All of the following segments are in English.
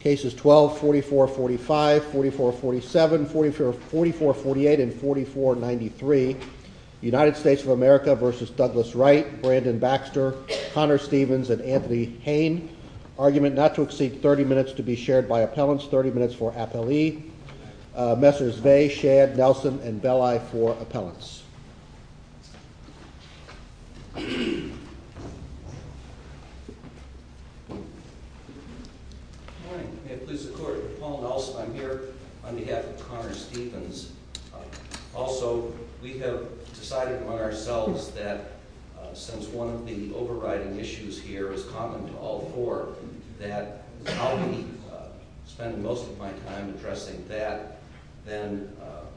Cases 12, 44, 45, 44, 47, 44, 48, and 44, 93. United States of America v. Douglas Wright, Brandon Baxter, Connor Stevens, and Anthony Hain. Argument not to exceed 30 minutes to be shared by appellants. 30 minutes for appellee. Messrs. Vea, Shadd, Nelson, and Belli for appellants. Good morning. May it please the Court. Paul Nelson. I'm here on behalf of Connor Stevens. Also, we have decided among ourselves that since one of the overriding issues here is common to all four, that I'll be spending most of my time addressing that. Then,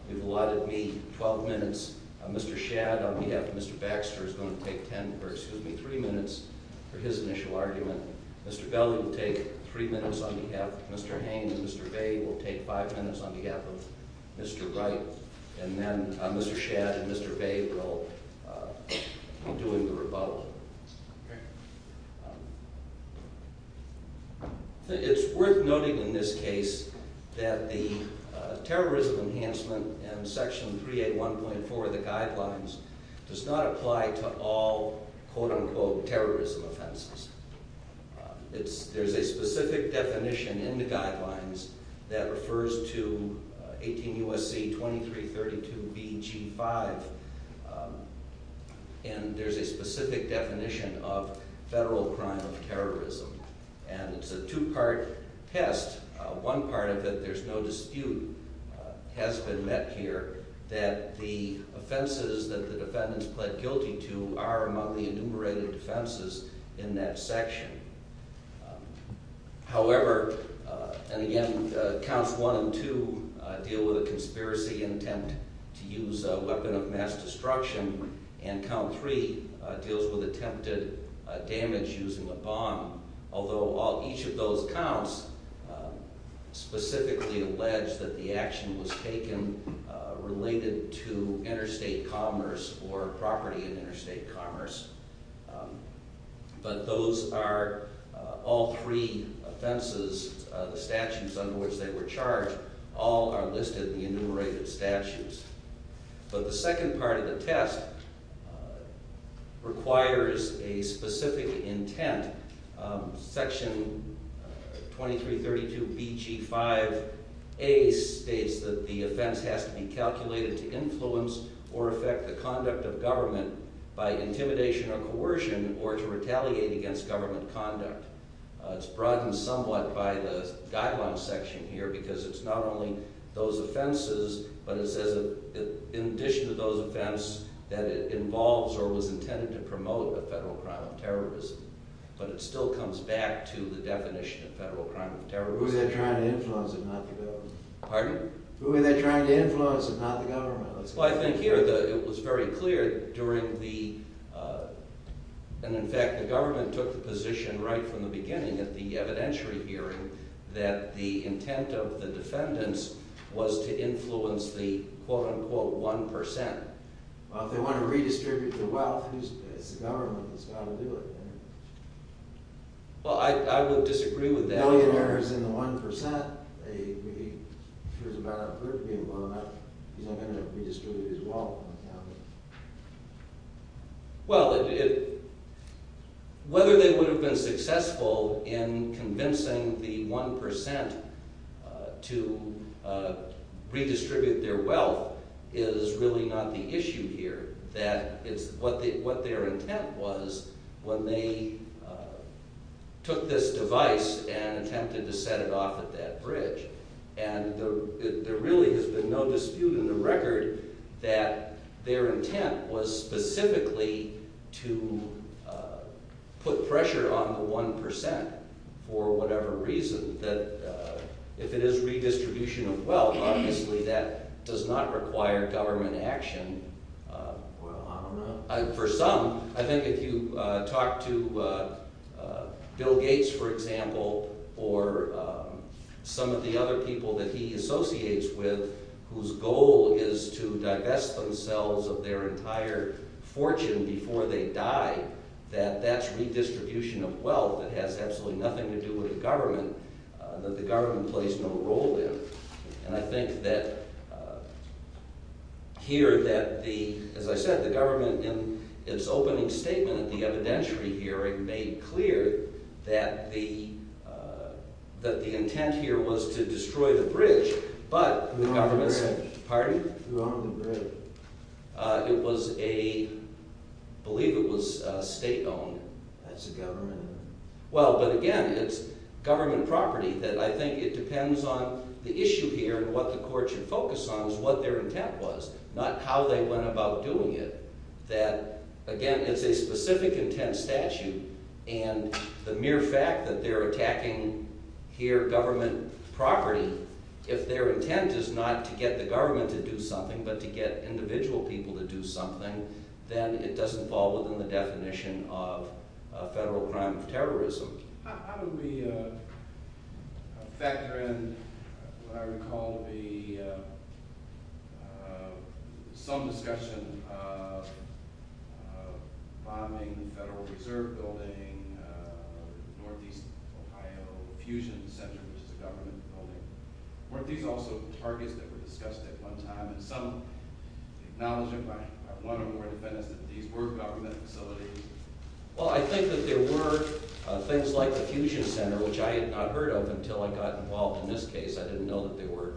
you've allotted me 12 minutes. Mr. Shadd, on behalf of Mr. Baxter, is going to take 10, or excuse me, 3 minutes for his initial argument. Mr. Belli will take 3 minutes on behalf of Mr. Hain, and Mr. Vea will take 5 minutes on behalf of Mr. Wright. And then, Mr. Shadd and Mr. Vea will be doing the rebuttal. It's worth noting in this case that the terrorism enhancement in Section 381.4 of the Guidelines does not apply to all, quote-unquote, terrorism offenses. There's a specific definition in the Guidelines that refers to 18 U.S.C. 2332 B.G. 5, and there's a specific definition of federal crime of terrorism. And it's a two-part test. One part of it, there's no dispute, has been met here, that the offenses that the defendants pled guilty to are among the enumerated offenses in that section. However, and again, Counts 1 and 2 deal with a conspiracy intent to use a weapon of mass destruction, and Count 3 deals with attempted damage using a bomb. Although each of those counts specifically allege that the action was taken related to interstate commerce or property in interstate commerce, but those are all three offenses, the statutes under which they were charged, all are listed in the enumerated statutes. But the second part of the test requires a specific intent. Section 2332 B.G. 5a states that the offense has to be calculated to influence or affect the conduct of government by intimidation or coercion or to retaliate against government conduct. It's broadened somewhat by the Guidelines section here because it's not only those offenses, but it says in addition to those offenses that it involves or was intended to promote a federal crime of terrorism. But it still comes back to the definition of federal crime of terrorism. Who's that trying to influence if not the government? Pardon? Who are they trying to influence if not the government? Well, I think here it was very clear during the, and in fact the government took the position right from the beginning at the evidentiary hearing that the intent of the defendants was to influence the quote-unquote 1%. Well, if they want to redistribute the wealth, it's the government that's got to do it. Well, I would disagree with that. Millionaires in the 1%. If there's a bad outburst being blown up, he's not going to redistribute his wealth on account of it. Well, whether they would have been successful in convincing the 1% to redistribute their wealth is really not the issue here. What their intent was when they took this device and attempted to set it off at that bridge. And there really has been no dispute in the record that their intent was specifically to put pressure on the 1% for whatever reason. That if it is redistribution of wealth, obviously that does not require government action. Well, I don't know. For some, I think if you talk to Bill Gates, for example, or some of the other people that he associates with whose goal is to divest themselves of their entire fortune before they die, that that's redistribution of wealth that has absolutely nothing to do with the government, that the government plays no role in. And I think that here that the, as I said, the government in its opening statement at the evidentiary hearing made clear that the intent here was to destroy the bridge, but the government's... Threw out the bridge. Pardon? Threw out the bridge. It was a, I believe it was state-owned. That's the government. Well, but again, it's government property. That I think it depends on the issue here and what the court should focus on is what their intent was, not how they went about doing it. That, again, it's a specific intent statute, and the mere fact that they're attacking here government property, if their intent is not to get the government to do something but to get individual people to do something, then it doesn't fall within the definition of a federal crime of terrorism. How do we factor in what I recall to be some discussion of bombing the Federal Reserve Building, Northeast Ohio Fusion Center, which is a government building. Weren't these also targets that were discussed at one time, and some acknowledge it by one or more defendants that these were government facilities? Well, I think that there were things like the Fusion Center, which I had not heard of until I got involved in this case. I didn't know that there were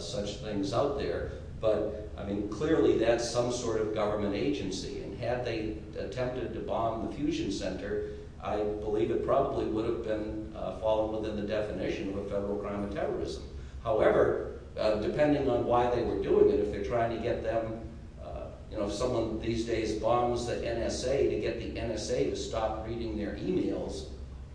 such things out there, but, I mean, clearly that's some sort of government agency, and had they attempted to bomb the Fusion Center, I believe it probably would have fallen within the definition of a federal crime of terrorism. However, depending on why they were doing it, if they're trying to get them, you know, if someone these days bombs the NSA to get the NSA to stop reading their emails,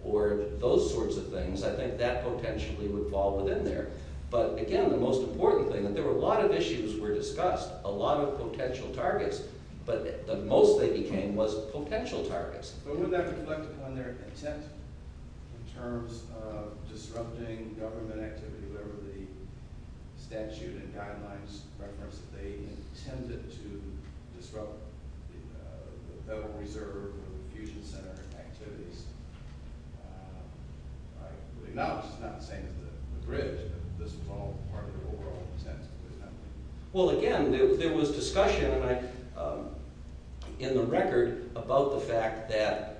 or those sorts of things, I think that potentially would fall within there. But, again, the most important thing, there were a lot of issues that were discussed, a lot of potential targets, but the most they became was potential targets. But wouldn't that reflect upon their intent in terms of disrupting government activity, whatever the statute and guidelines reference, that they intended to disrupt the Federal Reserve or the Fusion Center activities? I acknowledge it's not the same as the bridge, but this was all part of their overall intent. Well, again, there was discussion in the record about the fact that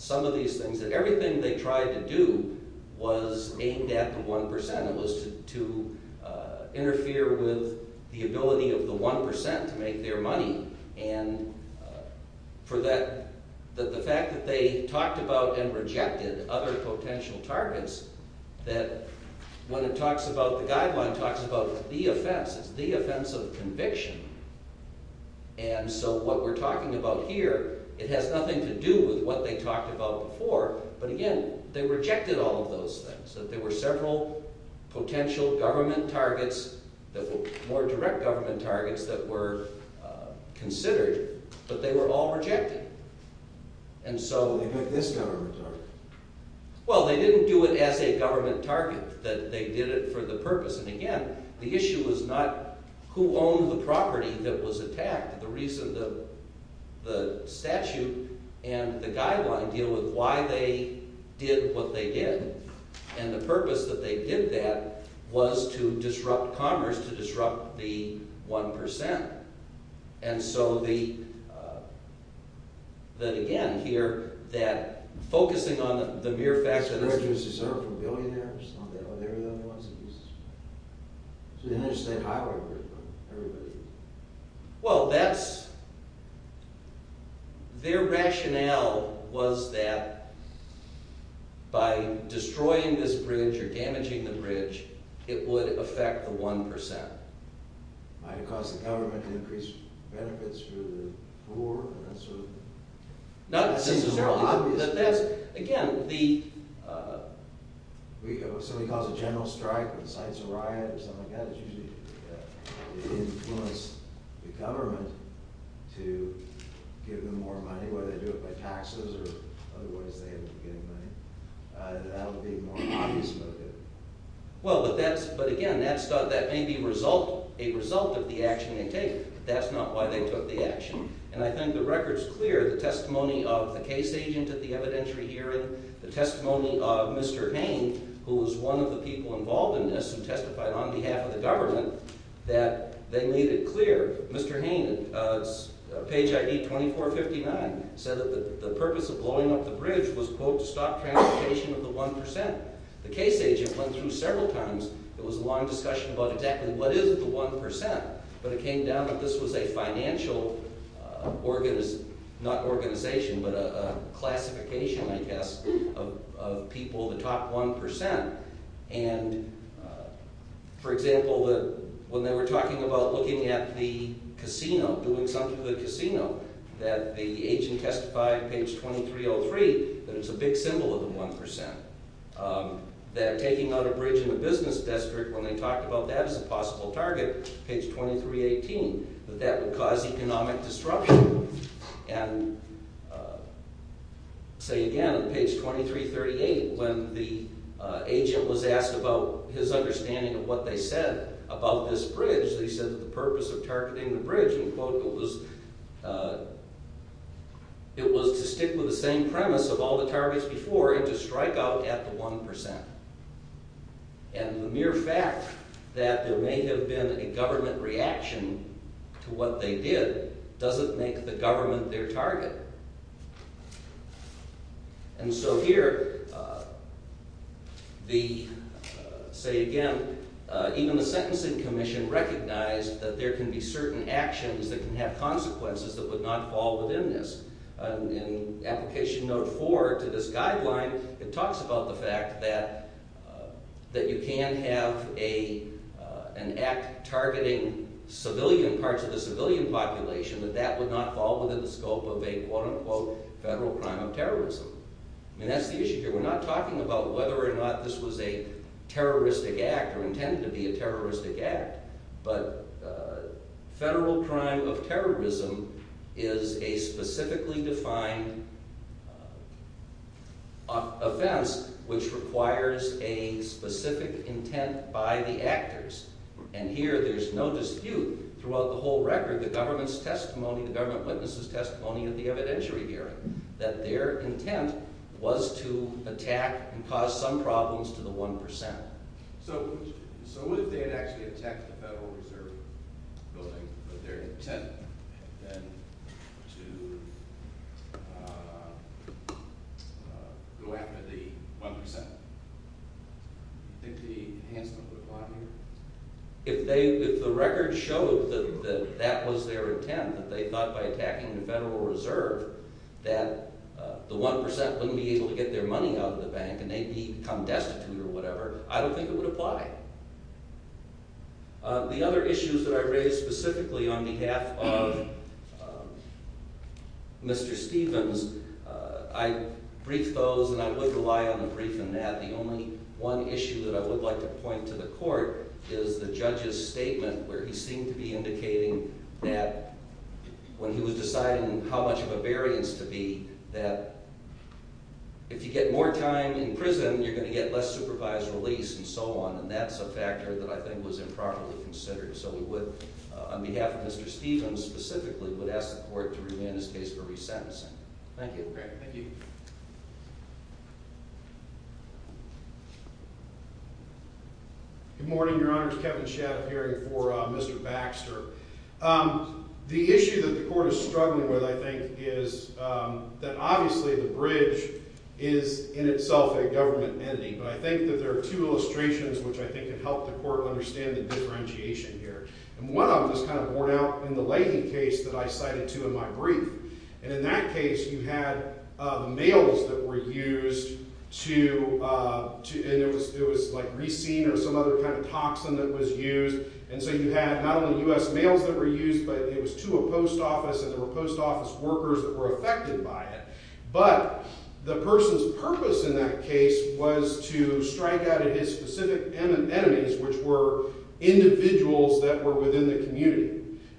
some of these things, that everything they tried to do was aimed at the 1%. It was to interfere with the ability of the 1% to make their money, and for that, the fact that they talked about and rejected other potential targets, that when it talks about the guideline, it talks about the offense, it's the offense of conviction, and so what we're talking about here, it has nothing to do with what they talked about before, but, again, they rejected all of those things. There were several potential government targets, more direct government targets, that were considered, but they were all rejected. And so... They made this government target. Well, they didn't do it as a government target. They did it for the purpose, and again, the issue was not who owned the property that was attacked. The reason the statute and the guideline deal with why they did what they did, and the purpose that they did that was to disrupt commerce, to disrupt the 1%. And so the... That, again, here, that focusing on the mere fact that... Well, that's... Their rationale was that by destroying this bridge or damaging the bridge, it would affect the 1%. It would increase benefits for the poor, and that sort of thing. That seems more obvious. Again, the... What somebody calls a general strike or the sites of riot or something like that, it's usually to influence the government to give them more money, whether they do it by taxes or otherwise they end up getting money. That would be more obvious motive. Well, but that's... But again, that may be a result of the action they take. That's not why they took the action. And I think the record's clear. The testimony of the case agent at the evidentiary hearing, the testimony of Mr. Hain, who was one of the people involved in this who testified on behalf of the government, that they made it clear. Mr. Hain, page ID 2459, said that the purpose of blowing up the bridge was, quote, to stop transportation of the 1%. The case agent went through several times. There was a long discussion about exactly what is the 1%, but it came down that this was a financial, not organization, but a classification, I guess, of people, the top 1%. And, for example, when they were talking about looking at the casino, doing something to the casino, that the agent testified, page 2303, that it's a big symbol of the 1%. That taking out a bridge in the business district, when they talked about that as a possible target, page 2318, that that would cause economic disruption. And, say again, on page 2338, when the agent was asked about his understanding of what they said about this bridge, they said that the purpose of targeting the bridge, and quote, it was to stick with the same premise of all the targets before it would strike out at the 1%. And the mere fact that there may have been a government reaction to what they did doesn't make the government their target. And so here, the, say again, even the sentencing commission recognized that there can be certain actions that can have consequences that would not fall within this. In application note 4 to this guideline, it talks about the fact that you can have an act targeting civilian, parts of the civilian population, that that would not fall within the scope of a, quote unquote, federal crime of terrorism. And that's the issue here. We're not talking about whether or not this was a terroristic act or intended to be a terroristic act. But federal crime of terrorism is a specifically defined offense which requires a specific intent by the actors. And here, there's no dispute throughout the whole record, the government's testimony, the government witness' testimony at the evidentiary hearing, that their intent was to attack and cause some problems to the 1%. So what if they had actually attacked the Federal Reserve building, but their intent had been to go after the 1%? Do you think the Hansen would have lied here? If the record showed that that was their intent, that they thought by attacking the Federal Reserve that the 1% wouldn't be able to get their money out of the bank and they'd become destitute or whatever, I don't think it would apply. The other issues that I raised specifically on behalf of Mr. Stevens, I briefed those and I would rely on the brief in that. The only one issue that I would like to point to the court is the judge's statement where he seemed to be indicating that when he was deciding how much of a variance to be, that if you get more time in prison, you're going to get less supervised release and so on, and that's a factor that I think was improperly considered. So we would, on behalf of Mr. Stevens specifically, would ask the court to remand his case for resentencing. Thank you. Thank you. Good morning, Your Honor. It's Kevin Shadiff here for Mr. Baxter. The issue that the court is struggling with, I think, is that obviously the bridge is in itself a government ending, but I think that there are two illustrations which I think can help the court understand the differentiation here. And one of them is kind of borne out in the Leighton case that I cited too in my brief, and in that case you had the mails that were used to – and it was like Resene or some other kind of toxin that was used, and so you had not only U.S. mails that were used, but it was to a post office and there were post office workers that were affected by it. But the person's purpose in that case was to strike out at his specific enemies, which were individuals that were within the community.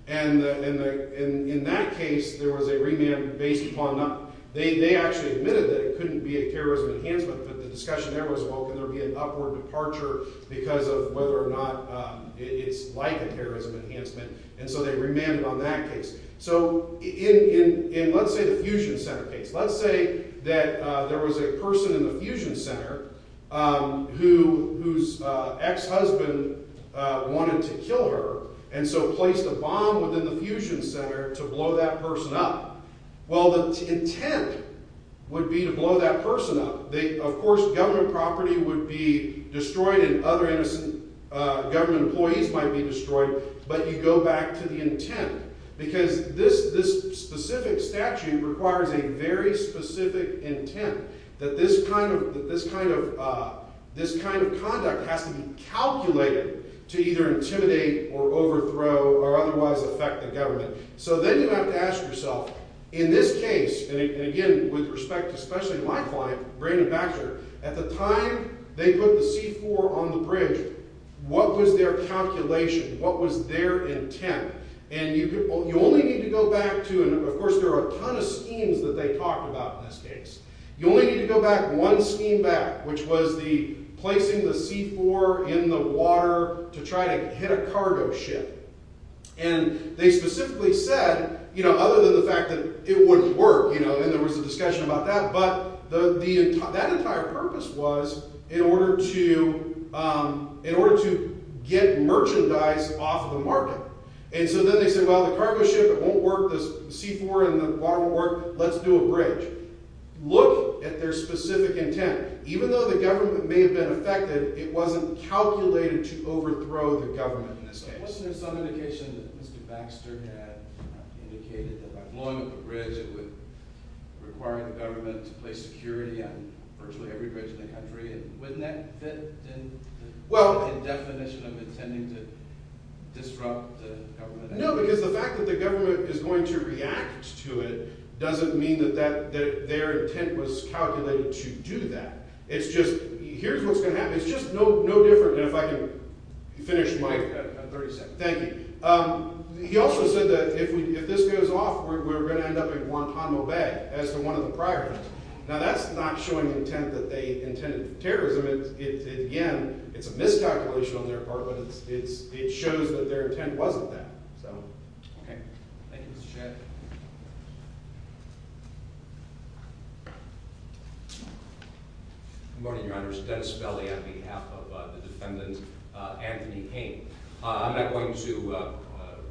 And in that case there was a remand based upon not – they actually admitted that it couldn't be a terrorism enhancement, but the discussion there was, well, can there be an upward departure because of whether or not it's like a terrorism enhancement? And so they remanded on that case. So in, let's say, the Fusion Center case, let's say that there was a person in the Fusion Center whose ex-husband wanted to kill her and so placed a bomb within the Fusion Center to blow that person up. Well, the intent would be to blow that person up. Of course, government property would be destroyed and other innocent government employees might be destroyed, but you go back to the intent because this specific statute requires a very specific intent, that this kind of conduct has to be calculated to either intimidate or overthrow or otherwise affect the government. So then you have to ask yourself, in this case, and again with respect to especially my client, Brandon Baxter, at the time they put the C-4 on the bridge, what was their calculation, what was their intent? And you only need to go back to, and of course there are a ton of schemes that they talked about in this case, you only need to go back one scheme back, which was placing the C-4 in the water to try to hit a cargo ship. And they specifically said, other than the fact that it wouldn't work, and there was a discussion about that, but that entire purpose was in order to get merchandise off the market. And so then they said, well, the cargo ship won't work, the C-4 in the water won't work, let's do a bridge. Look at their specific intent. Even though the government may have been affected, it wasn't calculated to overthrow the government in this case. Wasn't there some indication that Mr. Baxter had indicated that by blowing up the bridge it would require the government to place security on virtually every bridge in the country, and wouldn't that fit the definition of intending to disrupt the government? No, because the fact that the government is going to react to it doesn't mean that their intent was calculated to do that. It's just, here's what's going to happen, it's just no different than if I could finish my… You've got 30 seconds. Thank you. He also said that if this goes off, we're going to end up in Guantanamo Bay as to one of the priorities. Now, that's not showing intent that they intended for terrorism. Again, it's a miscalculation on their part, but it shows that their intent wasn't that. Okay. Thank you, Mr. Chairman. Good morning, Your Honors. Dennis Spelly on behalf of the defendant, Anthony Payne. I'm not going to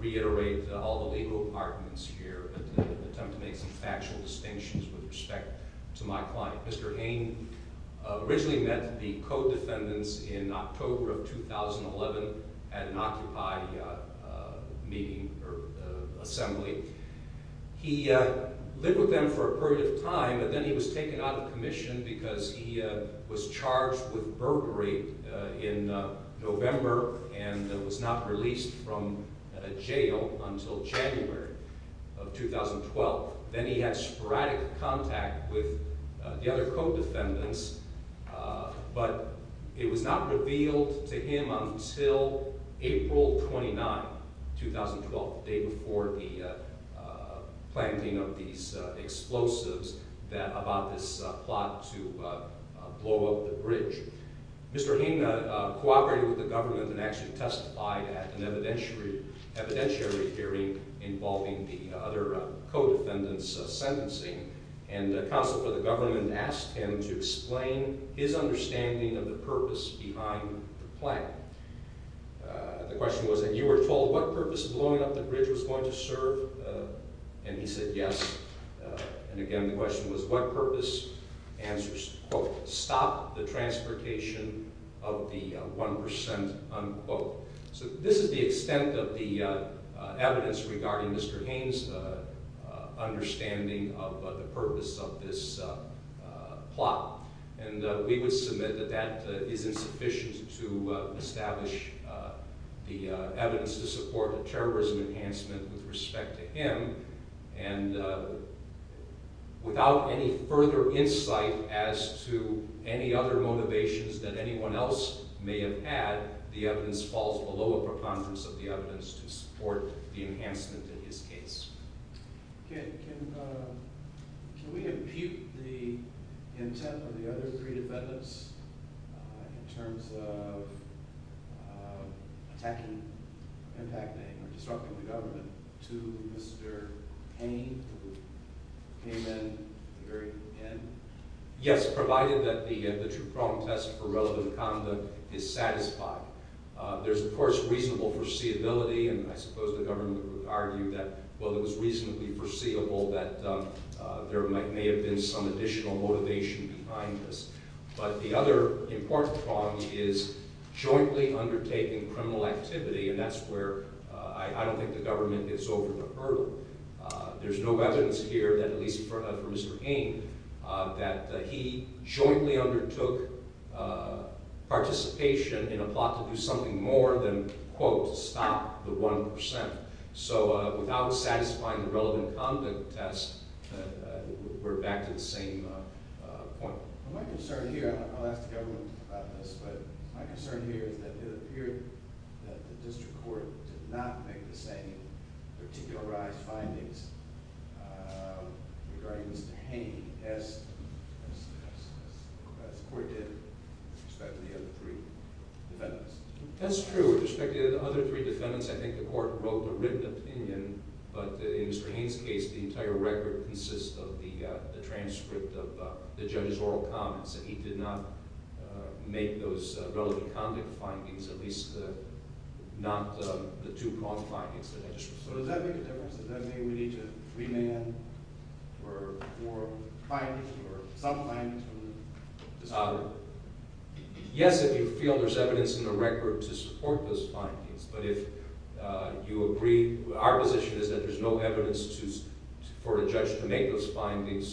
reiterate all the legal arguments here, but to attempt to make some factual distinctions with respect to my client. Mr. Payne originally met the co-defendants in October of 2011 at an Occupy meeting or assembly. He lived with them for a period of time, but then he was taken out of commission because he was charged with burglary in November and was not released from jail until January of 2012. Then he had sporadic contact with the other co-defendants, but it was not revealed to him until April 29, 2012, the day before the planting of these explosives about this plot to blow up the bridge. Mr. Payne cooperated with the government and actually testified at an evidentiary hearing involving the other co-defendants' sentencing, and the counsel for the government asked him to explain his understanding of the purpose behind the plant. The question was that you were told what purpose blowing up the bridge was going to serve, and he said yes. And again, the question was what purpose answers, quote, stop the transportation of the 1%, unquote. So this is the extent of the evidence regarding Mr. Payne's understanding of the purpose of this plot, and we would submit that that is insufficient to establish the evidence to support the terrorism enhancement with respect to him, and without any further insight as to any other motivations that anyone else may have had, the evidence falls below a preponderance of the evidence to support the enhancement in his case. Okay, can we impute the intent of the other three defendants in terms of attacking, impacting, or disrupting the government to Mr. Payne, who came in at the very end? Yes, provided that the true problem test for relevant conduct is satisfied. There's, of course, reasonable foreseeability, and I suppose the government would argue that, well, it was reasonably foreseeable that there may have been some additional motivation behind this. But the other important problem is jointly undertaking criminal activity, and that's where I don't think the government gets over the hurdle. There's no evidence here, at least for Mr. Payne, that he jointly undertook participation in a plot to do something more than, quote, stop the 1%. So without satisfying the relevant conduct test, we're back to the same point. My concern here, and I'll ask the government about this, but my concern here is that it appeared that the district court did not make the same particularized findings regarding Mr. Payne as the court did with respect to the other three defendants. That's true. With respect to the other three defendants, I think the court wrote the written opinion, but in Mr. Payne's case, the entire record consists of the transcript of the judge's oral comments, and he did not make those relevant conduct findings, at least not the two con findings. So does that make a difference? Does that mean we need to remand for findings, for some findings from the district court? Yes, if you feel there's evidence in the record to support those findings. But if you agree... So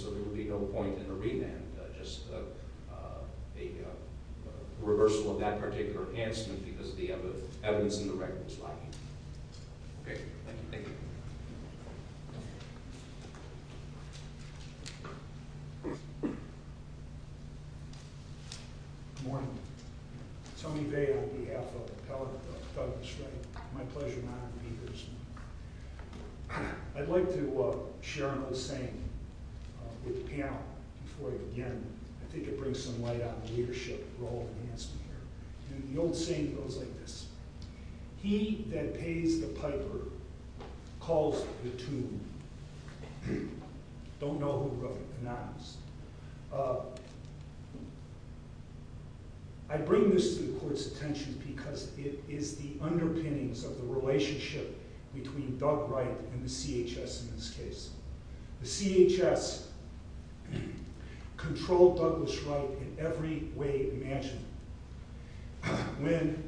there will be no point in the remand, just a reversal of that particular enhancement because the evidence in the record is lacking. Okay, thank you. Good morning. Tony Bay on behalf of the appellate of Douglas Strait. My pleasure, Your Honor, to be here this morning. I'd like to share an old saying with the panel before I begin. I think it brings some light on the leadership role of enhancement here. The old saying goes like this. He that pays the piper calls the tune. Don't know who wrote it, the knobs. I bring this to the court's attention because it is the underpinnings of the relationship between Doug Wright and the CHS in this case. The CHS controlled Douglas Wright in every way imaginable. When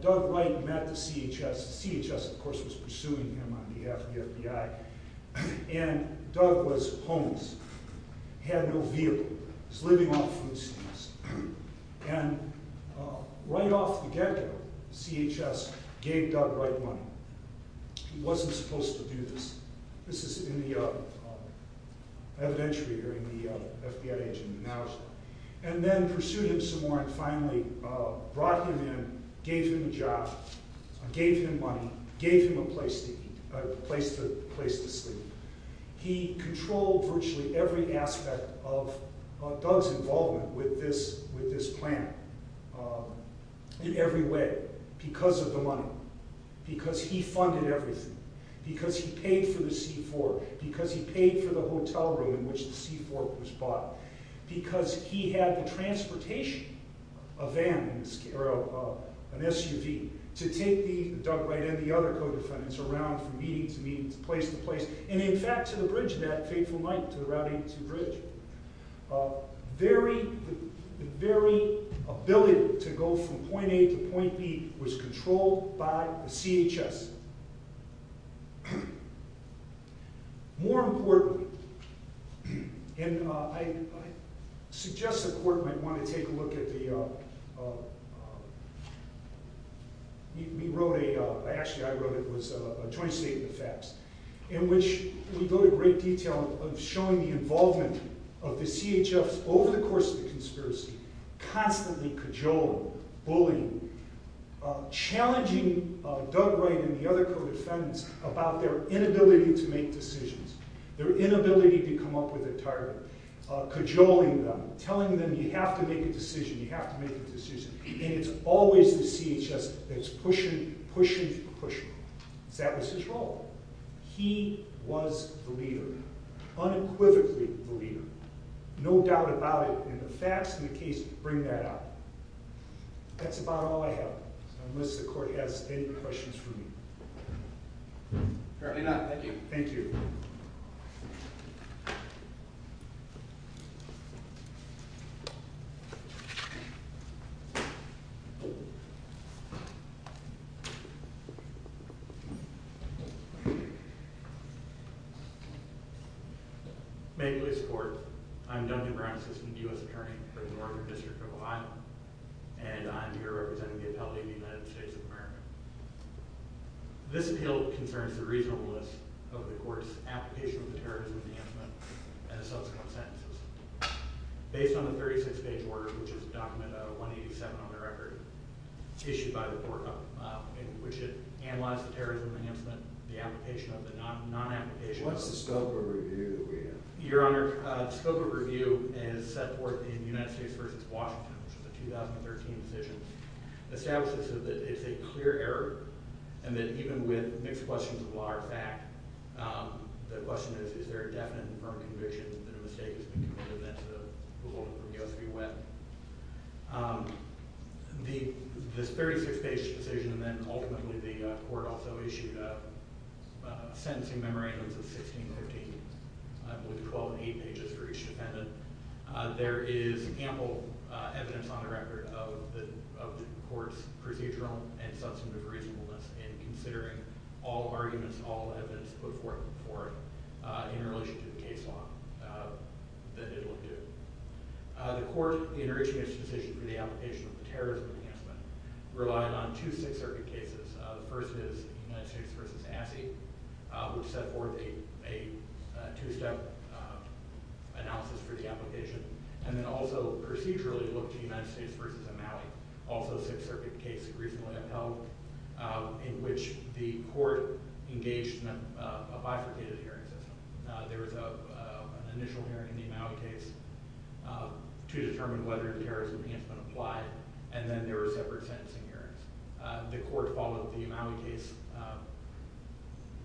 Doug Wright met the CHS, the CHS, of course, was pursuing him on behalf of the FBI, and Doug was homeless, had no vehicle, was living off food stamps. And right off the get-go, the CHS gave Doug Wright money. He wasn't supposed to do this. This is in the evidentiary during the FBI agent in the matters. And then pursued him some more and finally brought him in, gave him a job, gave him money, gave him a place to eat, a place to sleep. He controlled virtually every aspect of Doug's involvement with this plan in every way because of the money, because he funded everything, because he paid for the C-4, because he paid for the hotel room in which the C-4 was bought, because he had the transportation of an SUV to take Doug Wright and the other co-defendants around from meeting to meeting, place to place, and in fact to the bridge of that fateful night, to the Route 82 bridge. The very ability to go from point A to point B was controlled by the CHS. More importantly, and I suggest the court might want to take a look at the... He wrote a... Actually, I wrote it. It was a joint statement of facts in which we go to great detail of showing the involvement of the CHS over the course of the conspiracy, constantly cajoling, bullying, challenging Doug Wright and the other co-defendants about their inability to make decisions, their inability to come up with a target, cajoling them, telling them you have to make a decision, you have to make a decision, and it's always the CHS that's pushing, pushing, pushing. That was his role. He was the leader, unequivocally the leader. No doubt about it, and the facts in the case bring that out. That's about all I have, unless the court has any questions for me. Apparently not. Thank you. Thank you. May it please the court. I'm Duncan Brown, assistant U.S. attorney for the Northern District of Ohio, and I'm here representing the appellate in the United States of America. This appeal concerns the reasonableness of the court's application of the terrorism enhancement and the subsequent sentences. Based on the 36-page order, which is a document, 187 on the record, issued by the court, in which it analyzed the terrorism enhancement, the application of the non-application... What's the scope of review that we have? Your Honor, the scope of review is set forth in United States v. Washington, which is a 2013 decision. It establishes that it's a clear error, and that even with mixed questions of law or fact, the question is, is there a definite and firm conviction that a mistake has been committed, and that's the rule that we go through with. This 36-page decision, and then ultimately the court also issued sentencing memorandums of 1613, with 12 and 8 pages for each defendant. There is ample evidence on the record of the court's procedural and substantive reasonableness in considering all arguments, all evidence put forth in relation to the case law that it will do. The court, in reaching its decision for the application of the terrorism enhancement, relied on two Sixth Circuit cases. The first is United States v. Assi, which set forth a two-step analysis for the application, and then also procedurally looked to United States v. Imaui, also a Sixth Circuit case recently upheld, in which the court engaged in a bifurcated hearing system. There was an initial hearing in the Imaui case to determine whether the terrorism enhancement applied, and then there were separate sentencing hearings. The court followed the Imaui case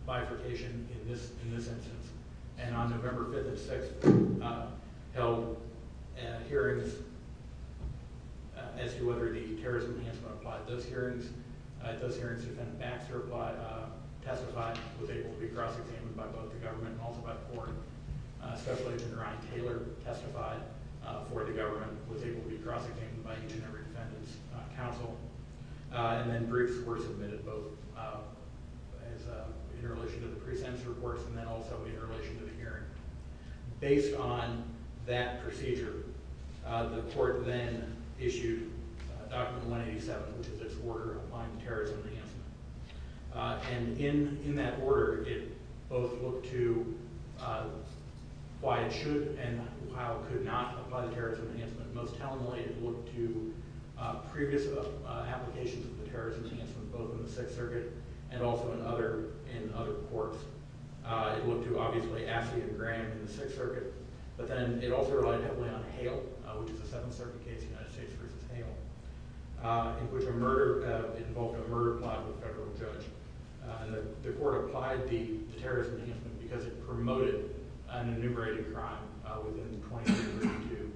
bifurcation in this instance, and on November 5th and 6th held hearings as to whether the terrorism enhancement applied. Those hearings, the defendant Baxter testified, was able to be cross-examined by both the government and also by the court. Special Agent Ryan Taylor testified for the government, was able to be cross-examined by each and every defendant's counsel, and then briefs were submitted, both in relation to the pre-sentence reports and then also in relation to the hearing. Based on that procedure, the court then issued Document 187, which is its order applying the terrorism enhancement. And in that order, it both looked to why it should and how it could not apply the terrorism enhancement. Most tellingly, it looked to previous applications of the terrorism enhancement, both in the Sixth Circuit and also in other courts. It looked to, obviously, Assi and Graham in the Sixth Circuit, but then it also relied heavily on Hale, which is a Seventh Circuit case, United States v. Hale, in which a murder involved a murder plot with a federal judge. The court applied the terrorism enhancement because it promoted an enumerated crime within the 23rd to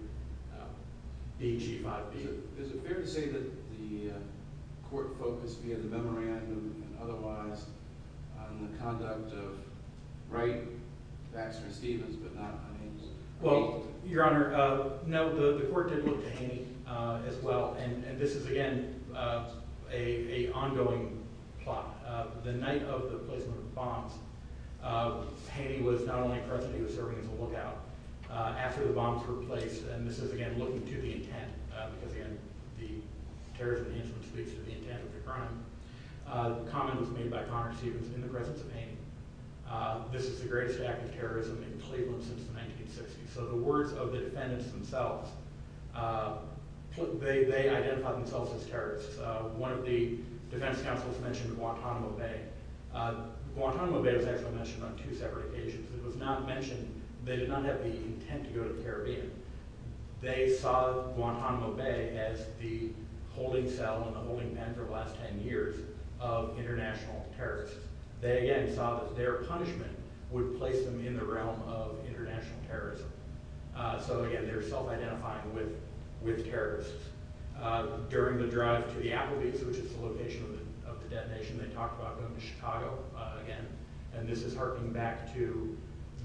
BG 5B. Is it fair to say that the court focused, via the memorandum and otherwise, on the conduct of Wright, Baxter, and Stevens, but not Hale? Well, Your Honor, no, the court did look to Hale as well, and this is, again, an ongoing plot. The night of the placement of the bombs, Hale was not only present, he was serving as a lookout. After the bombs were placed, and this is, again, looking to the intent, because, again, the terrorism enhancement speaks to the intent of the crime, the comment was made by Connor and Stevens in the presence of Hale. This is the greatest act of terrorism in Cleveland since the 1960s. So the words of the defendants themselves, they identified themselves as terrorists. One of the defense counsels mentioned Guantanamo Bay. Guantanamo Bay was actually mentioned on two separate occasions. It was not mentioned. They did not have the intent to go to the Caribbean. They saw Guantanamo Bay as the holding cell and the holding pen for the last ten years of international terrorists. They, again, saw that their punishment would place them in the realm of international terrorism. So, again, they were self-identifying with terrorists. During the drive to the Applebee's, which is the location of the detonation, they talked about going to Chicago again. And this is harking back to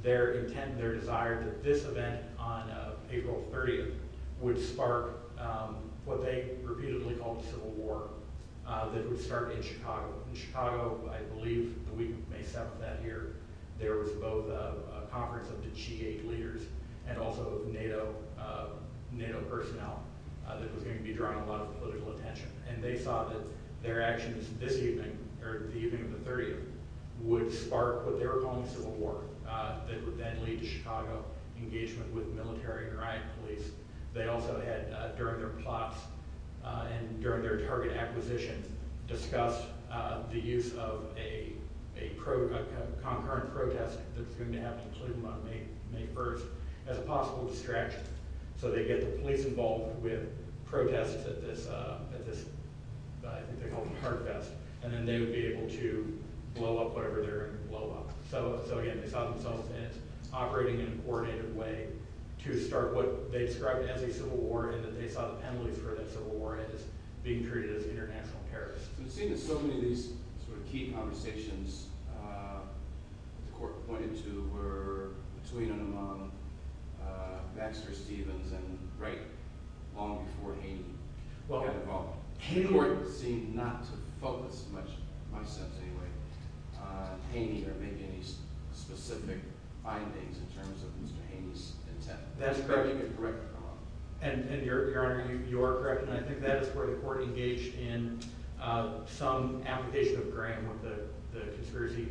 their intent and their desire that this event on April 30th would spark what they repeatedly called the Civil War that would start in Chicago. In Chicago, I believe, the week of May 7th, that year, there was both a conference of the G8 leaders and also NATO personnel that was going to be drawing a lot of political attention. And they saw that their actions this evening, or the evening of the 30th, would spark what they were calling the Civil War that would then lead to Chicago engagement with military and riot police. They also had, during their plots and during their target acquisitions, discussed the use of a concordant protest that was going to happen in Cleveland on May 1st as a possible distraction. So they'd get the police involved with protests at this, I think they called it a heart fest, and then they would be able to blow up whatever they were going to blow up. So, again, they saw themselves operating in a coordinated way to start what they described as a Civil War and that they saw the penalties for that Civil War as being treated as international terrorism. It seems that so many of these sort of key conversations that the court pointed to were between and among Baxter, Stevens, and Wright long before Haney. Well, Haney seemed not to focus much, in my sense anyway, Haney or maybe any specific findings in terms of Mr. Haney's intent. That's correct. And, Your Honor, you are correct, and I think that is where the court engaged in some application of Graham with the conspiracy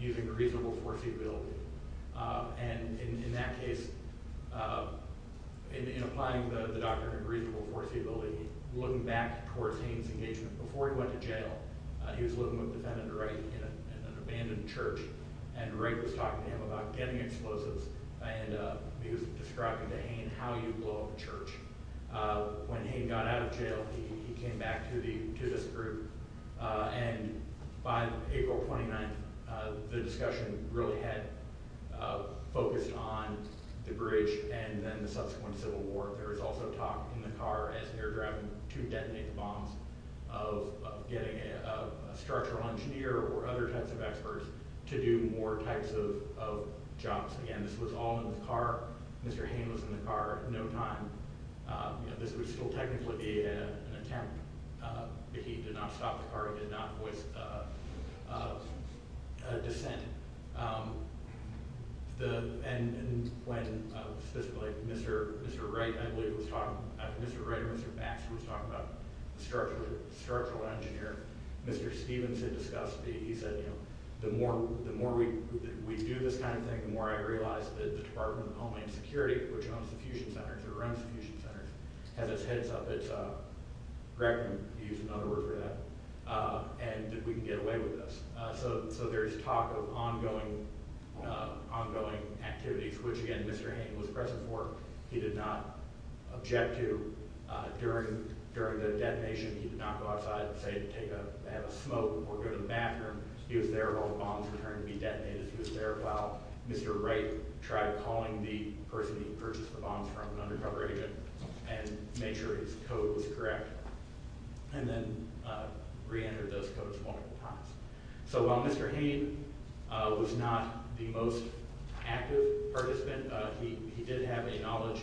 using reasonable foreseeability. And in that case, in applying the doctrine of reasonable foreseeability, looking back towards Haney's engagement before he went to jail, he was living with defendant Wright in an abandoned church, and Wright was talking to him to Haney how you blow up a church when Haney got out of jail, he came back to this group. And by April 29th, the discussion really had focused on the bridge and then the subsequent Civil War. There was also talk in the car as they were driving to detonate the bombs of getting a structural engineer or other types of experts to do more types of jobs. Again, this was all in the car. Mr. Haney was in the car at no time. This was still technically an attempt. He did not stop the car. He did not voice a dissent. And when specifically Mr. Wright, I believe, was talking, I think Mr. Wright or Mr. Baxter was talking about the structural engineer. Mr. Stevens had discussed, he said, the more we do this kind of thing, the more I realize that the Department of Homeland Security, which owns the fusion centers, or runs the fusion centers, has its heads up. Greg can use another word for that, and that we can get away with this. So there's talk of ongoing activities, which, again, Mr. Haney was present for. He did not object to during the detonation. He did not go outside and say to have a smoke or go to the bathroom. He was there while the bombs were trying to be detonated. He was there while Mr. Wright tried calling the person who purchased the bombs from an undercover agent and made sure his code was correct, and then reentered those codes multiple times. So while Mr. Haney was not the most active participant, he did have a knowledge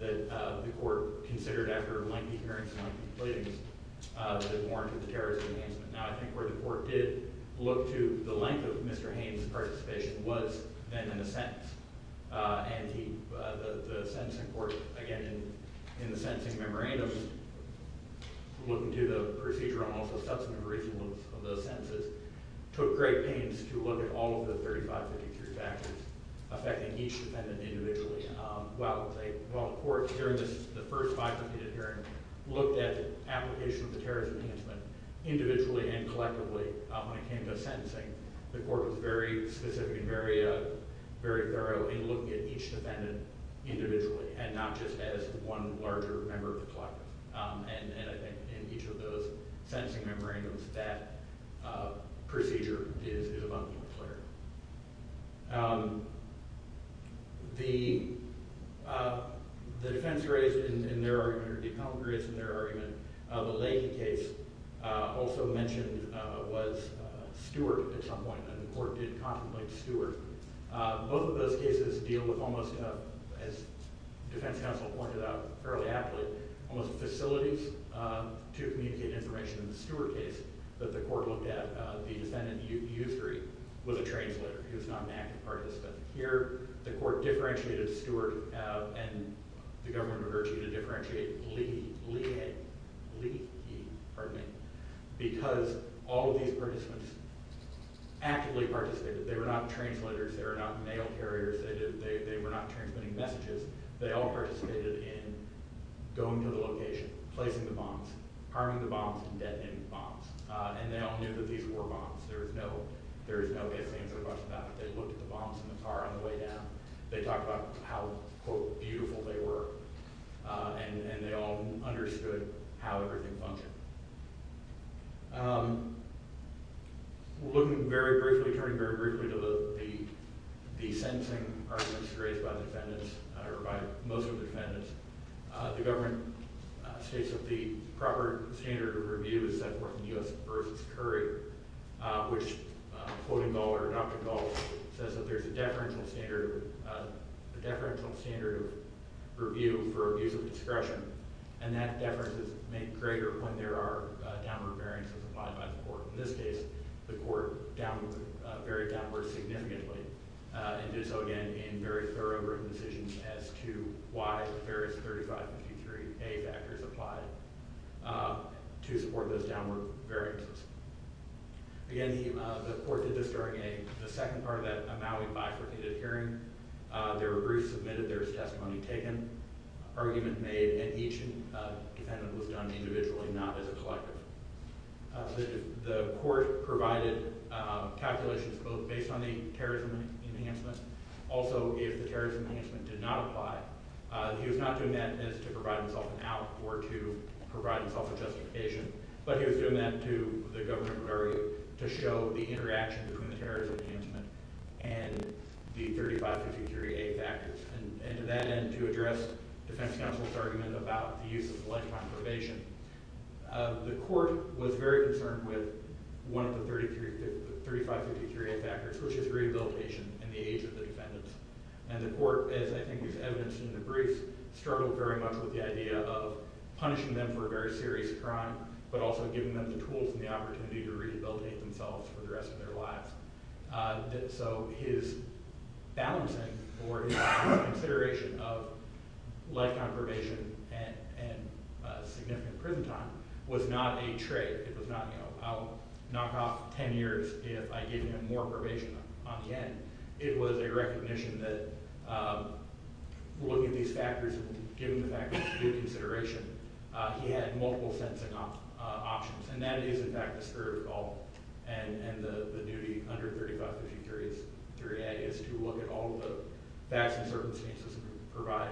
that the court considered after lengthy hearings and lengthy pleadings that warranted the terrorist enhancement. Now, I think where the court did look to the length of Mr. Haney's participation was then in the sentence. And the sentencing court, again, in the sentencing memorandum, looking to the procedural and also substantive reasons of those sentences, took great pains to look at all of the 3553 factors affecting each defendant individually. While the court, during the first five-minute hearing, looked at the application of the terrorist enhancement individually and collectively when it came to sentencing, the court was very specific and very thorough in looking at each defendant individually and not just as one larger member of the collective. And I think in each of those sentencing memorandums, that procedure is abundantly clear. The defense raised in their argument, or the appellant raised in their argument, of a Leahy case also mentioned was Stewart at some point. And the court did contemplate Stewart. Both of those cases deal with almost, as defense counsel pointed out fairly aptly, almost facilities to communicate information in the Stewart case that the court looked at. The defendant, U3, was a translator. He was not an active participant. Here, the court differentiated Stewart, and the government referred to him to differentiate Leahy, because all of these participants actively participated. They were not translators. They were not mail carriers. They were not transmitting messages. They all participated in going to the location, placing the bombs, harming the bombs, and detonating the bombs. And they all knew that these were bombs. There is no mis-answer question about that. They looked at the bombs in the car on the way down. They talked about how, quote, beautiful they were. And they all understood how everything functioned. We're looking very briefly, turning very briefly, to the sentencing arguments raised by the defendants, or by most of the defendants. The government states that the proper standard of review is set forth in U.S. v. Curry, which, quoting Gall or adopting Gall, says that there's a deferential standard of review for abuse of discretion. And that deference is made greater when there are downward variances applied by the court. In this case, the court varied downward significantly and did so, again, in very thorough written decisions as to why the various 3553A factors applied to support those downward variances. Again, the court did this during a... part of that Maui bifurcated hearing. There were briefs submitted. There was testimony taken, argument made, and each defendant was done individually, not as a collective. The court provided calculations both based on the terrorism enhancements. Also, if the terrorism enhancement did not apply, he was not doing that as to provide himself an out or to provide himself a justification, but he was doing that to the government of Maui to show the interaction between the terrorism enhancement and the 3553A factors. And to that end, to address Defense Counsel's argument about the use of lifetime probation, the court was very concerned with one of the 3553A factors, which is rehabilitation in the age of the defendants. And the court, as I think was evidenced in the briefs, struggled very much with the idea of punishing them for a very serious crime but also giving them the tools and the opportunity to rehabilitate themselves for the rest of their lives. So his balancing or his consideration of lifetime probation and significant prison time was not a trade. It was not, you know, I'll knock off ten years if I give him more probation on the end. It was a recognition that looking at these factors and giving the factors good consideration, he had multiple sentencing options. And that is, in fact, the spirit of the call. And the duty under 3553A is to look at all the facts and circumstances and provide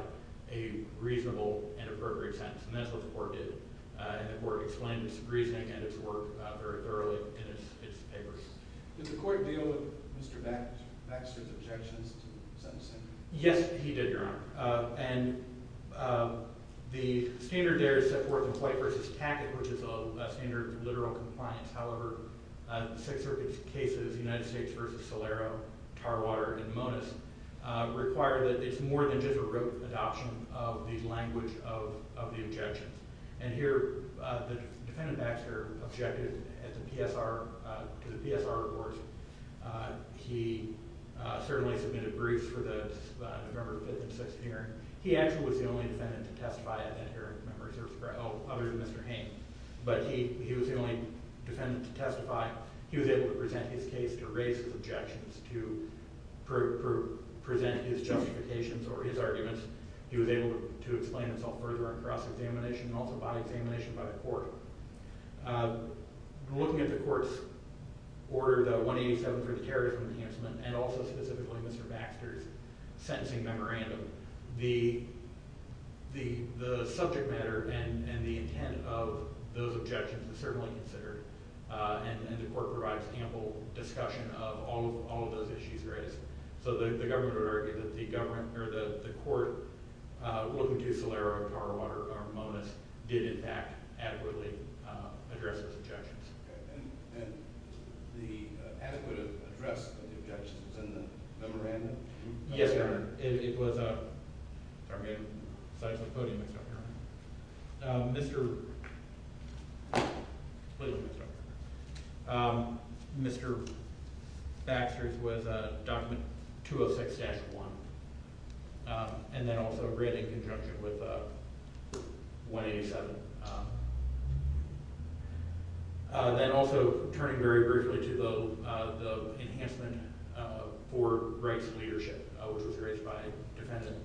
a reasonable and appropriate sentence. And that's what the court did. And the court explained its reasoning and its work very thoroughly in its papers. Did the court deal with Mr. Baxter's objections to sentencing? Yes, he did, Your Honor. And the standard there is set forth in White v. Tackett, which is a standard literal compliance. However, the Sixth Circuit's cases, United States v. Solero, Tarwater, and Monis, require that it's more than just a rote adoption of the language of the objections. And here, the defendant, Baxter, objected to the PSR report. He certainly submitted briefs for the November 5th and 6th hearing. He actually was the only defendant to testify at that hearing, other than Mr. Hain. But he was the only defendant to testify. He was able to present his case, to raise his objections, to present his justifications or his arguments. He was able to explain himself further on cross-examination and also by examination by the court. Looking at the court's order, the 187 for the terrorism enhancement, and also specifically Mr. Baxter's sentencing memorandum, the subject matter and the intent of those objections is certainly considered. And the court provides ample discussion of all of those issues raised. So the government would argue that the court, looking to Solero, Tarwater, or Monis, did, in fact, adequately address those objections. And the adequate address of the objections is in the memorandum? Yes, Your Honor. It was a... Sorry, I'm getting sides of the podium mixed up here. Mr... Please, Mr. Harper. Mr. Baxter's was a document 206-1. And then also read in conjunction with 187. And also turning very briefly to the enhancement for rights of leadership, which was raised by Defendant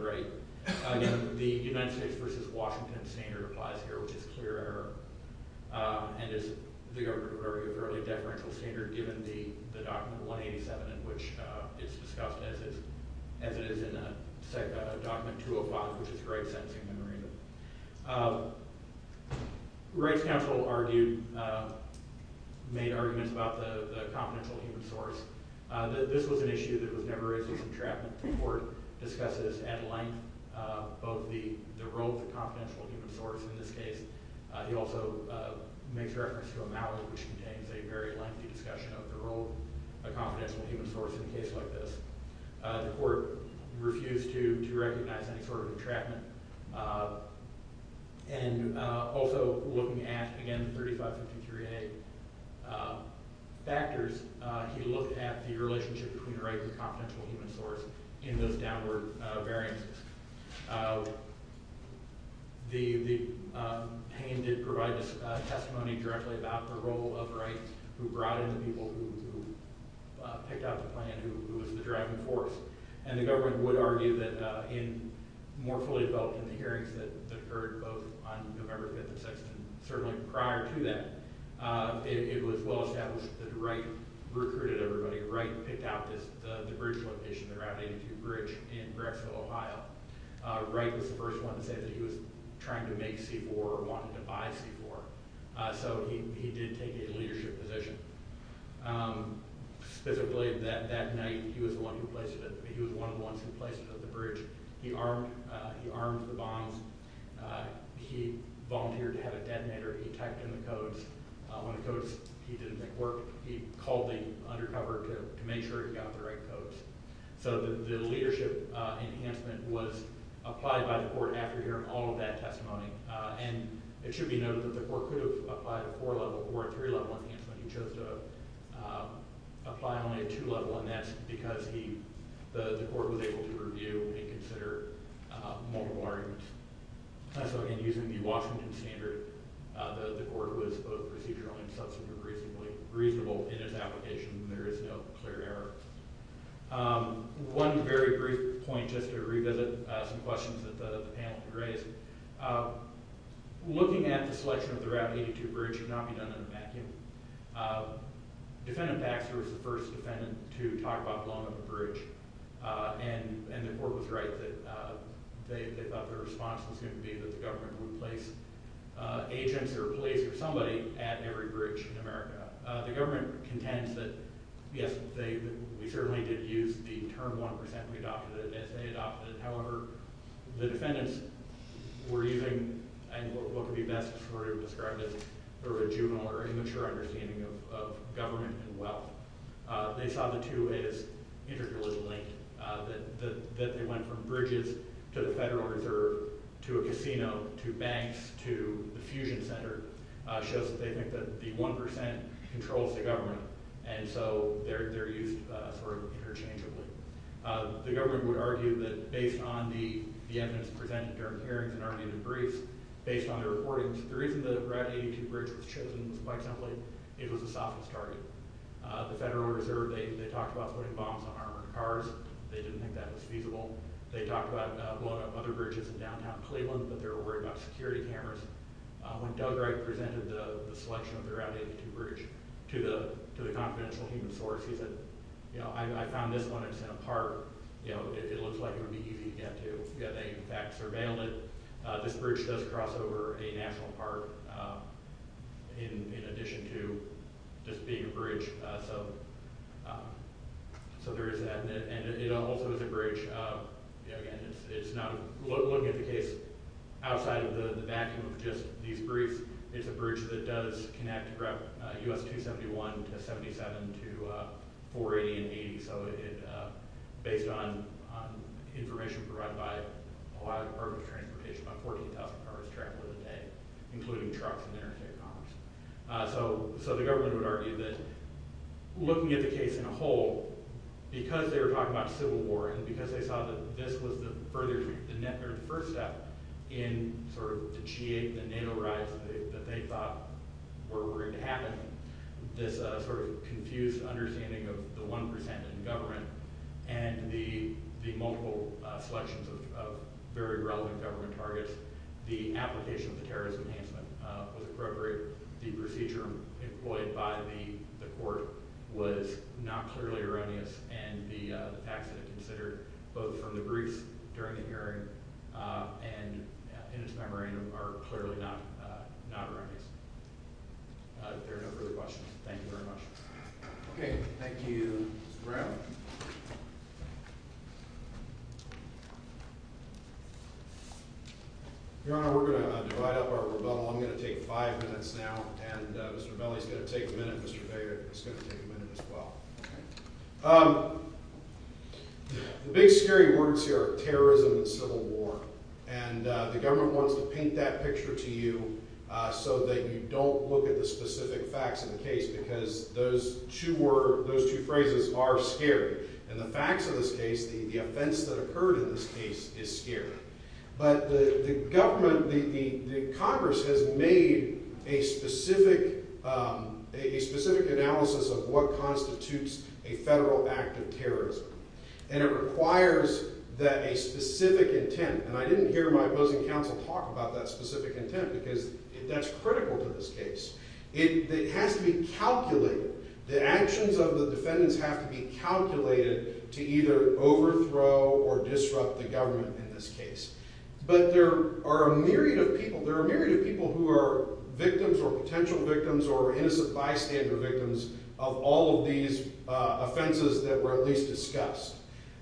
Wright. Again, the United States v. Washington standard applies here, which is clear error. And the government would argue a fairly deferential standard given the document 187, in which it's discussed as it is in document 205, which is Wright's sentencing memorandum. Wright's counsel argued... made arguments about the confidential human source. This was an issue that was never raised as entrapment. The court discusses at length both the role of the confidential human source in this case. He also makes reference to a mallet, which contains a very lengthy discussion of the role of confidential human source in a case like this. The court refused to recognize any sort of entrapment. And also looking at, again, 3553A factors, he looked at the relationship between Wright and the confidential human source in those downward variances. Payne did provide testimony directly about the role of Wright, who brought in the people who picked out the plan, who was the driving force. And the government would argue that more fully developed in the hearings that occurred both on November 5th and 6th, and certainly prior to that, it was well established that Wright recruited everybody. Wright picked out the bridge location, the Route 82 bridge in Bracksville, Ohio. Wright was the first one to say that he was trying to make C-4 or wanted to buy C-4. So he did take a leadership position. Specifically, that night, he was the one who placed it... the bridge. He armed the bombs. He volunteered to have a detonator. He typed in the codes. When the codes, he didn't think, worked, he called the undercover to make sure he got the right codes. So the leadership enhancement was applied by the court after hearing all of that testimony. And it should be noted that the court could have applied a four-level or a three-level enhancement. He chose to apply only a two-level, and that's because the court was able to review and consider multiple arguments. So again, using the Washington standard, the court was both procedural and substantive, reasonable in its application, and there is no clear error. One very brief point, just to revisit some questions that the panel had raised. Looking at the selection of the Route 82 bridge should not be done in a vacuum. Defendant Baxter was the first defendant to talk about blowing up a bridge, and the court was right that they thought their response was going to be that the government would place agents or police or somebody at every bridge in America. The government contends that, yes, we certainly did use the term 1%. We adopted it as they adopted it. However, the defendants were using what could be best sort of described as a juvenile or immature understanding of government and wealth. They saw the two as intricately linked, that they went from bridges to the Federal Reserve to a casino to banks to the Fusion Center, shows that they think that the 1% controls the government, and so they're used sort of interchangeably. The government would argue that, based on the evidence presented during the hearings and the briefs, based on the recordings, the reason the Route 82 bridge was chosen was quite simply it was the softest target. The Federal Reserve, they talked about putting bombs on armored cars. They didn't think that was feasible. They talked about blowing up other bridges in downtown Cleveland, but they were worried about security cameras. When Doug Wright presented the selection of the Route 82 bridge to the confidential human source, he said, you know, I found this one. It's in a park. It looks like it would be easy to get to. They, in fact, surveilled it. This bridge does cross over a national park in addition to just being a bridge, so there is that, and it also is a bridge. Again, it's not, looking at the case outside of the vacuum of just these briefs, it's a bridge that does connect Route US-271 to 77 to 480 and 80, so based on information provided by the Department of Transportation, about 14,000 cars travel in a day, including trucks and interstate commerce. The government would argue that looking at the case in a whole, because they were talking about a civil war and because they saw that this was the first step in sort of the G8, the nanorides that they thought were going to happen, this sort of confused understanding of the one percent in government and the multiple selections of very relevant government targets, the application of the terrorism enhancement was appropriate. The procedure employed by the court was not clearly erroneous, and the facts that are considered both from the briefs during the hearing and in its memorandum are clearly not erroneous. There are no further questions. Thank you very much. Okay, thank you, Mr. Brown. Your Honor, we're going to divide up our rebuttal. I'm going to take five minutes now, and Mr. Belli's going to take a minute, Mr. Baker is going to take a minute as well. The big scary words here are terrorism and civil war, and the government wants to paint that picture to you so that you don't look at the specific facts of the case because those two phrases are scary. And the facts of this case, the offense that occurred in this case is scary. But the government, the Congress, has made a specific analysis of what constitutes a federal act of terrorism, and it requires that a specific intent, and I didn't hear my opposing counsel talk about that specific intent because that's critical to this case. It has to be calculated. The actions of the defendants have to be calculated to either overthrow or disrupt the government in this case. But there are a myriad of people, there are a myriad of people who are victims or potential victims or innocent bystander victims of all of these offenses that were at least discussed.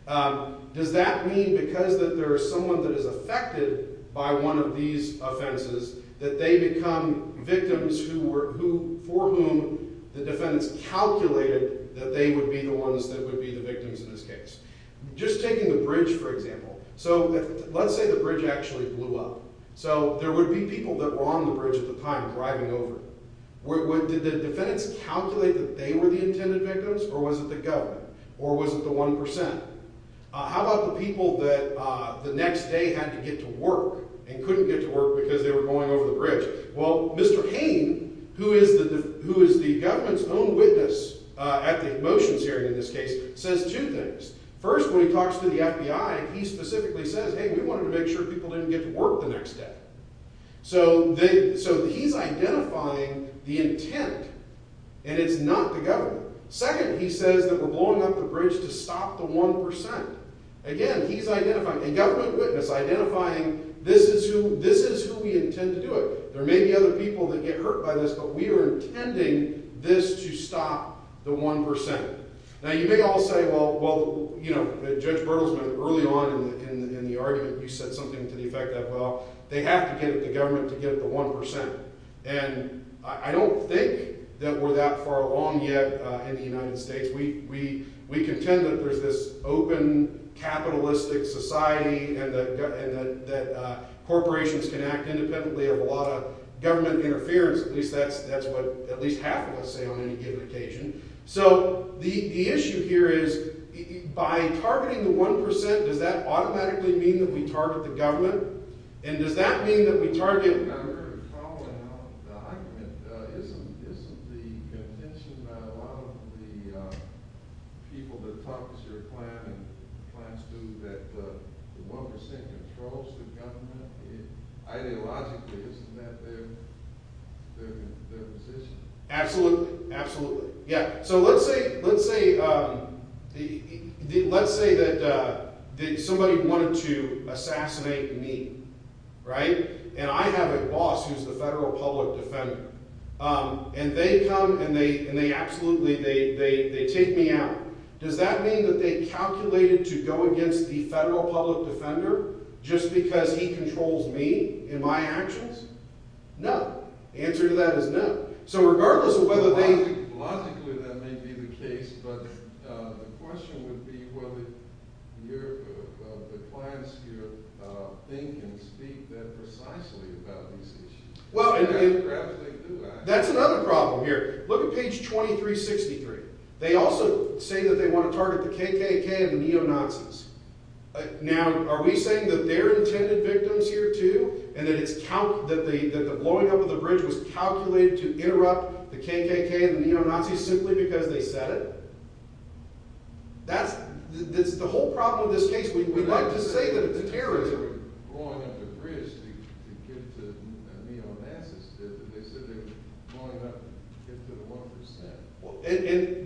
Does that mean because that there is someone that is affected by one of these offenses that they become victims for whom the defendants calculated that they would be the ones that would be the victims in this case? Just taking the bridge, for example. So let's say the bridge actually blew up. So there would be people that were on the bridge at the time driving over. Did the defendants calculate that they were the intended victims, or was it the government, or was it the 1%? How about the people that the next day had to get to work and couldn't get to work because they were going over the bridge? Well, Mr. Hain, who is the government's own witness at the motions hearing in this case, says two things. First, when he talks to the FBI, he specifically says, hey, we wanted to make sure people didn't get to work the next day. So he's identifying the intent, and it's not the government. Second, he says that we're blowing up the bridge to stop the 1%. Again, he's identifying, a government witness identifying this is who we intend to do it. There may be other people that get hurt by this, but we are intending this to stop the 1%. Now, you may all say, well, Judge Bertelsmann, early on in the argument, you said something to the effect that, well, they have to get the government to get the 1%. And I don't think that we're that far along yet in the United States. We contend that there's this open, capitalistic society and that corporations can act independently of a lot of government interference. At least that's what at least half of us say on any given occasion. So the issue here is, by targeting the 1%, does that automatically mean that we target the government? And does that mean that we target... You're calling out the argument. Isn't the contention by a lot of the people that talk to your clan and clans do that the 1% controls the government? Ideologically, isn't that their position? Absolutely. Absolutely. Yeah. So let's say that somebody wanted to assassinate me, right? And I have a boss who's the federal public defender. And they come and they absolutely... They take me out. Does that mean that they calculated to go against the federal public defender just because he controls me in my actions? No. The answer to that is no. So regardless of whether they... Logically, that may be the case, but the question would be whether the clans here think and speak that precisely about these issues. Perhaps they do, actually. That's another problem here. Look at page 2363. They also say that they want to target the KKK and the neo-Nazis. Now, are we saying that they're intended victims here, too, and that the blowing up of the bridge was calculated to interrupt the KKK and the neo-Nazis simply because they said it? That's the whole problem with this case. We'd like to say that it's terrorism.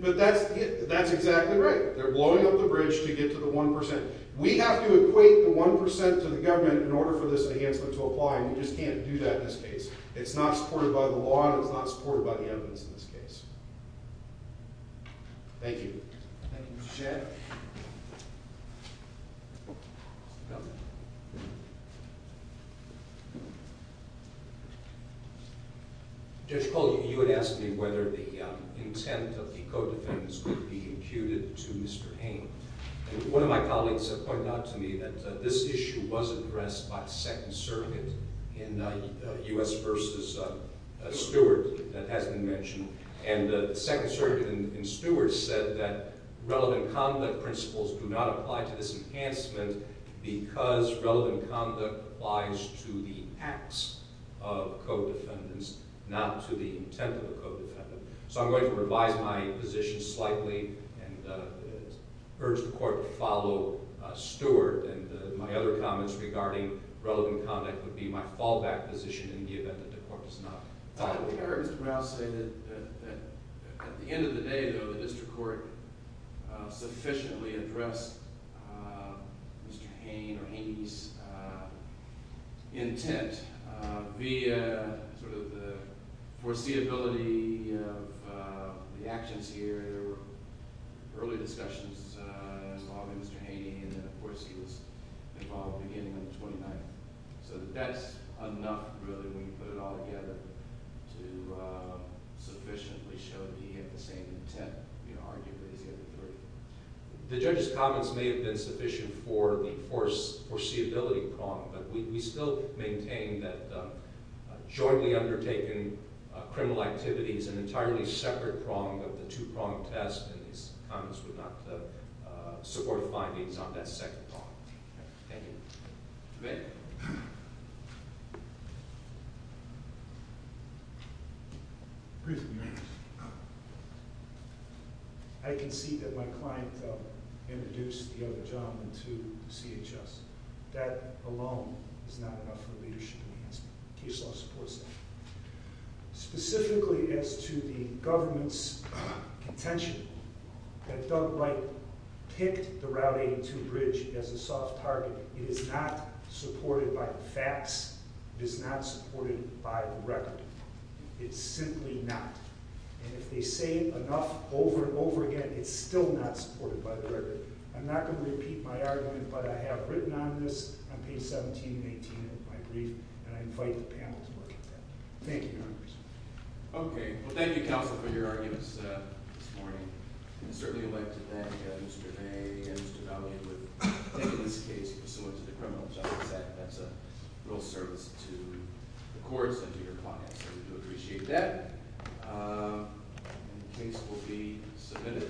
But that's exactly right. They're blowing up the bridge to get to the 1%. We have to equate the 1% to the government in order for this enhancement to apply, and we just can't do that in this case. It's not supported by the law, and it's not supported by the evidence in this case. Thank you. Thank you, Mr. Chair. Judge Cole, you had asked me whether the intent of the co-defendants could be imputed to Mr. Hain. One of my colleagues pointed out to me that this issue was addressed by the Second Circuit in U.S. v. Stewart that has been mentioned, and the Second Circuit in Stewart said that relevant conduct principles do not apply to this enhancement because relevant conduct applies to the acts of co-defendants, not to the intent of the co-defendant. So I'm going to revise my position slightly and urge the Court to follow Stewart, and my other comments regarding relevant conduct would be my fallback position in the event that the Court does not follow Stewart. I will hear Mr. Brown say that at the end of the day, though, the district court sufficiently addressed Mr. Hain or Haney's intent via sort of the foreseeability of the actions here. There were early discussions involving Mr. Haney, and, of course, he was involved beginning on the 29th. So that's enough, really, when you put it all together to sufficiently show that he had the same intent, arguably, as the other three. The judge's comments may have been sufficient for the foreseeability prong, but we still maintain that jointly undertaken criminal activity is an entirely separate prong of the two-prong test, and these comments would not support findings on that second prong. Thank you. I concede that my client introduced the other gentleman to the CHS. That alone is not enough for leadership enhancement. Case law supports that. Specifically as to the government's contention that Doug Wright picked the Route 82 bridge as a soft target. It is not supported by the facts. It is not supported by the record. It's simply not. And if they say enough over and over again, it's still not supported by the record. I'm not going to repeat my argument, but I have written on this on page 17 and 18 of my brief, and I invite the panel to look at that. Thank you, Your Honor. Okay. Well, thank you, Counsel, for your arguments this morning. It's certainly elected that Mr. Day and Mr. Daly would take this case pursuant to the Criminal Justice Act. That's a real service to the courts and to your clients, so we do appreciate that. And the case will be submitted.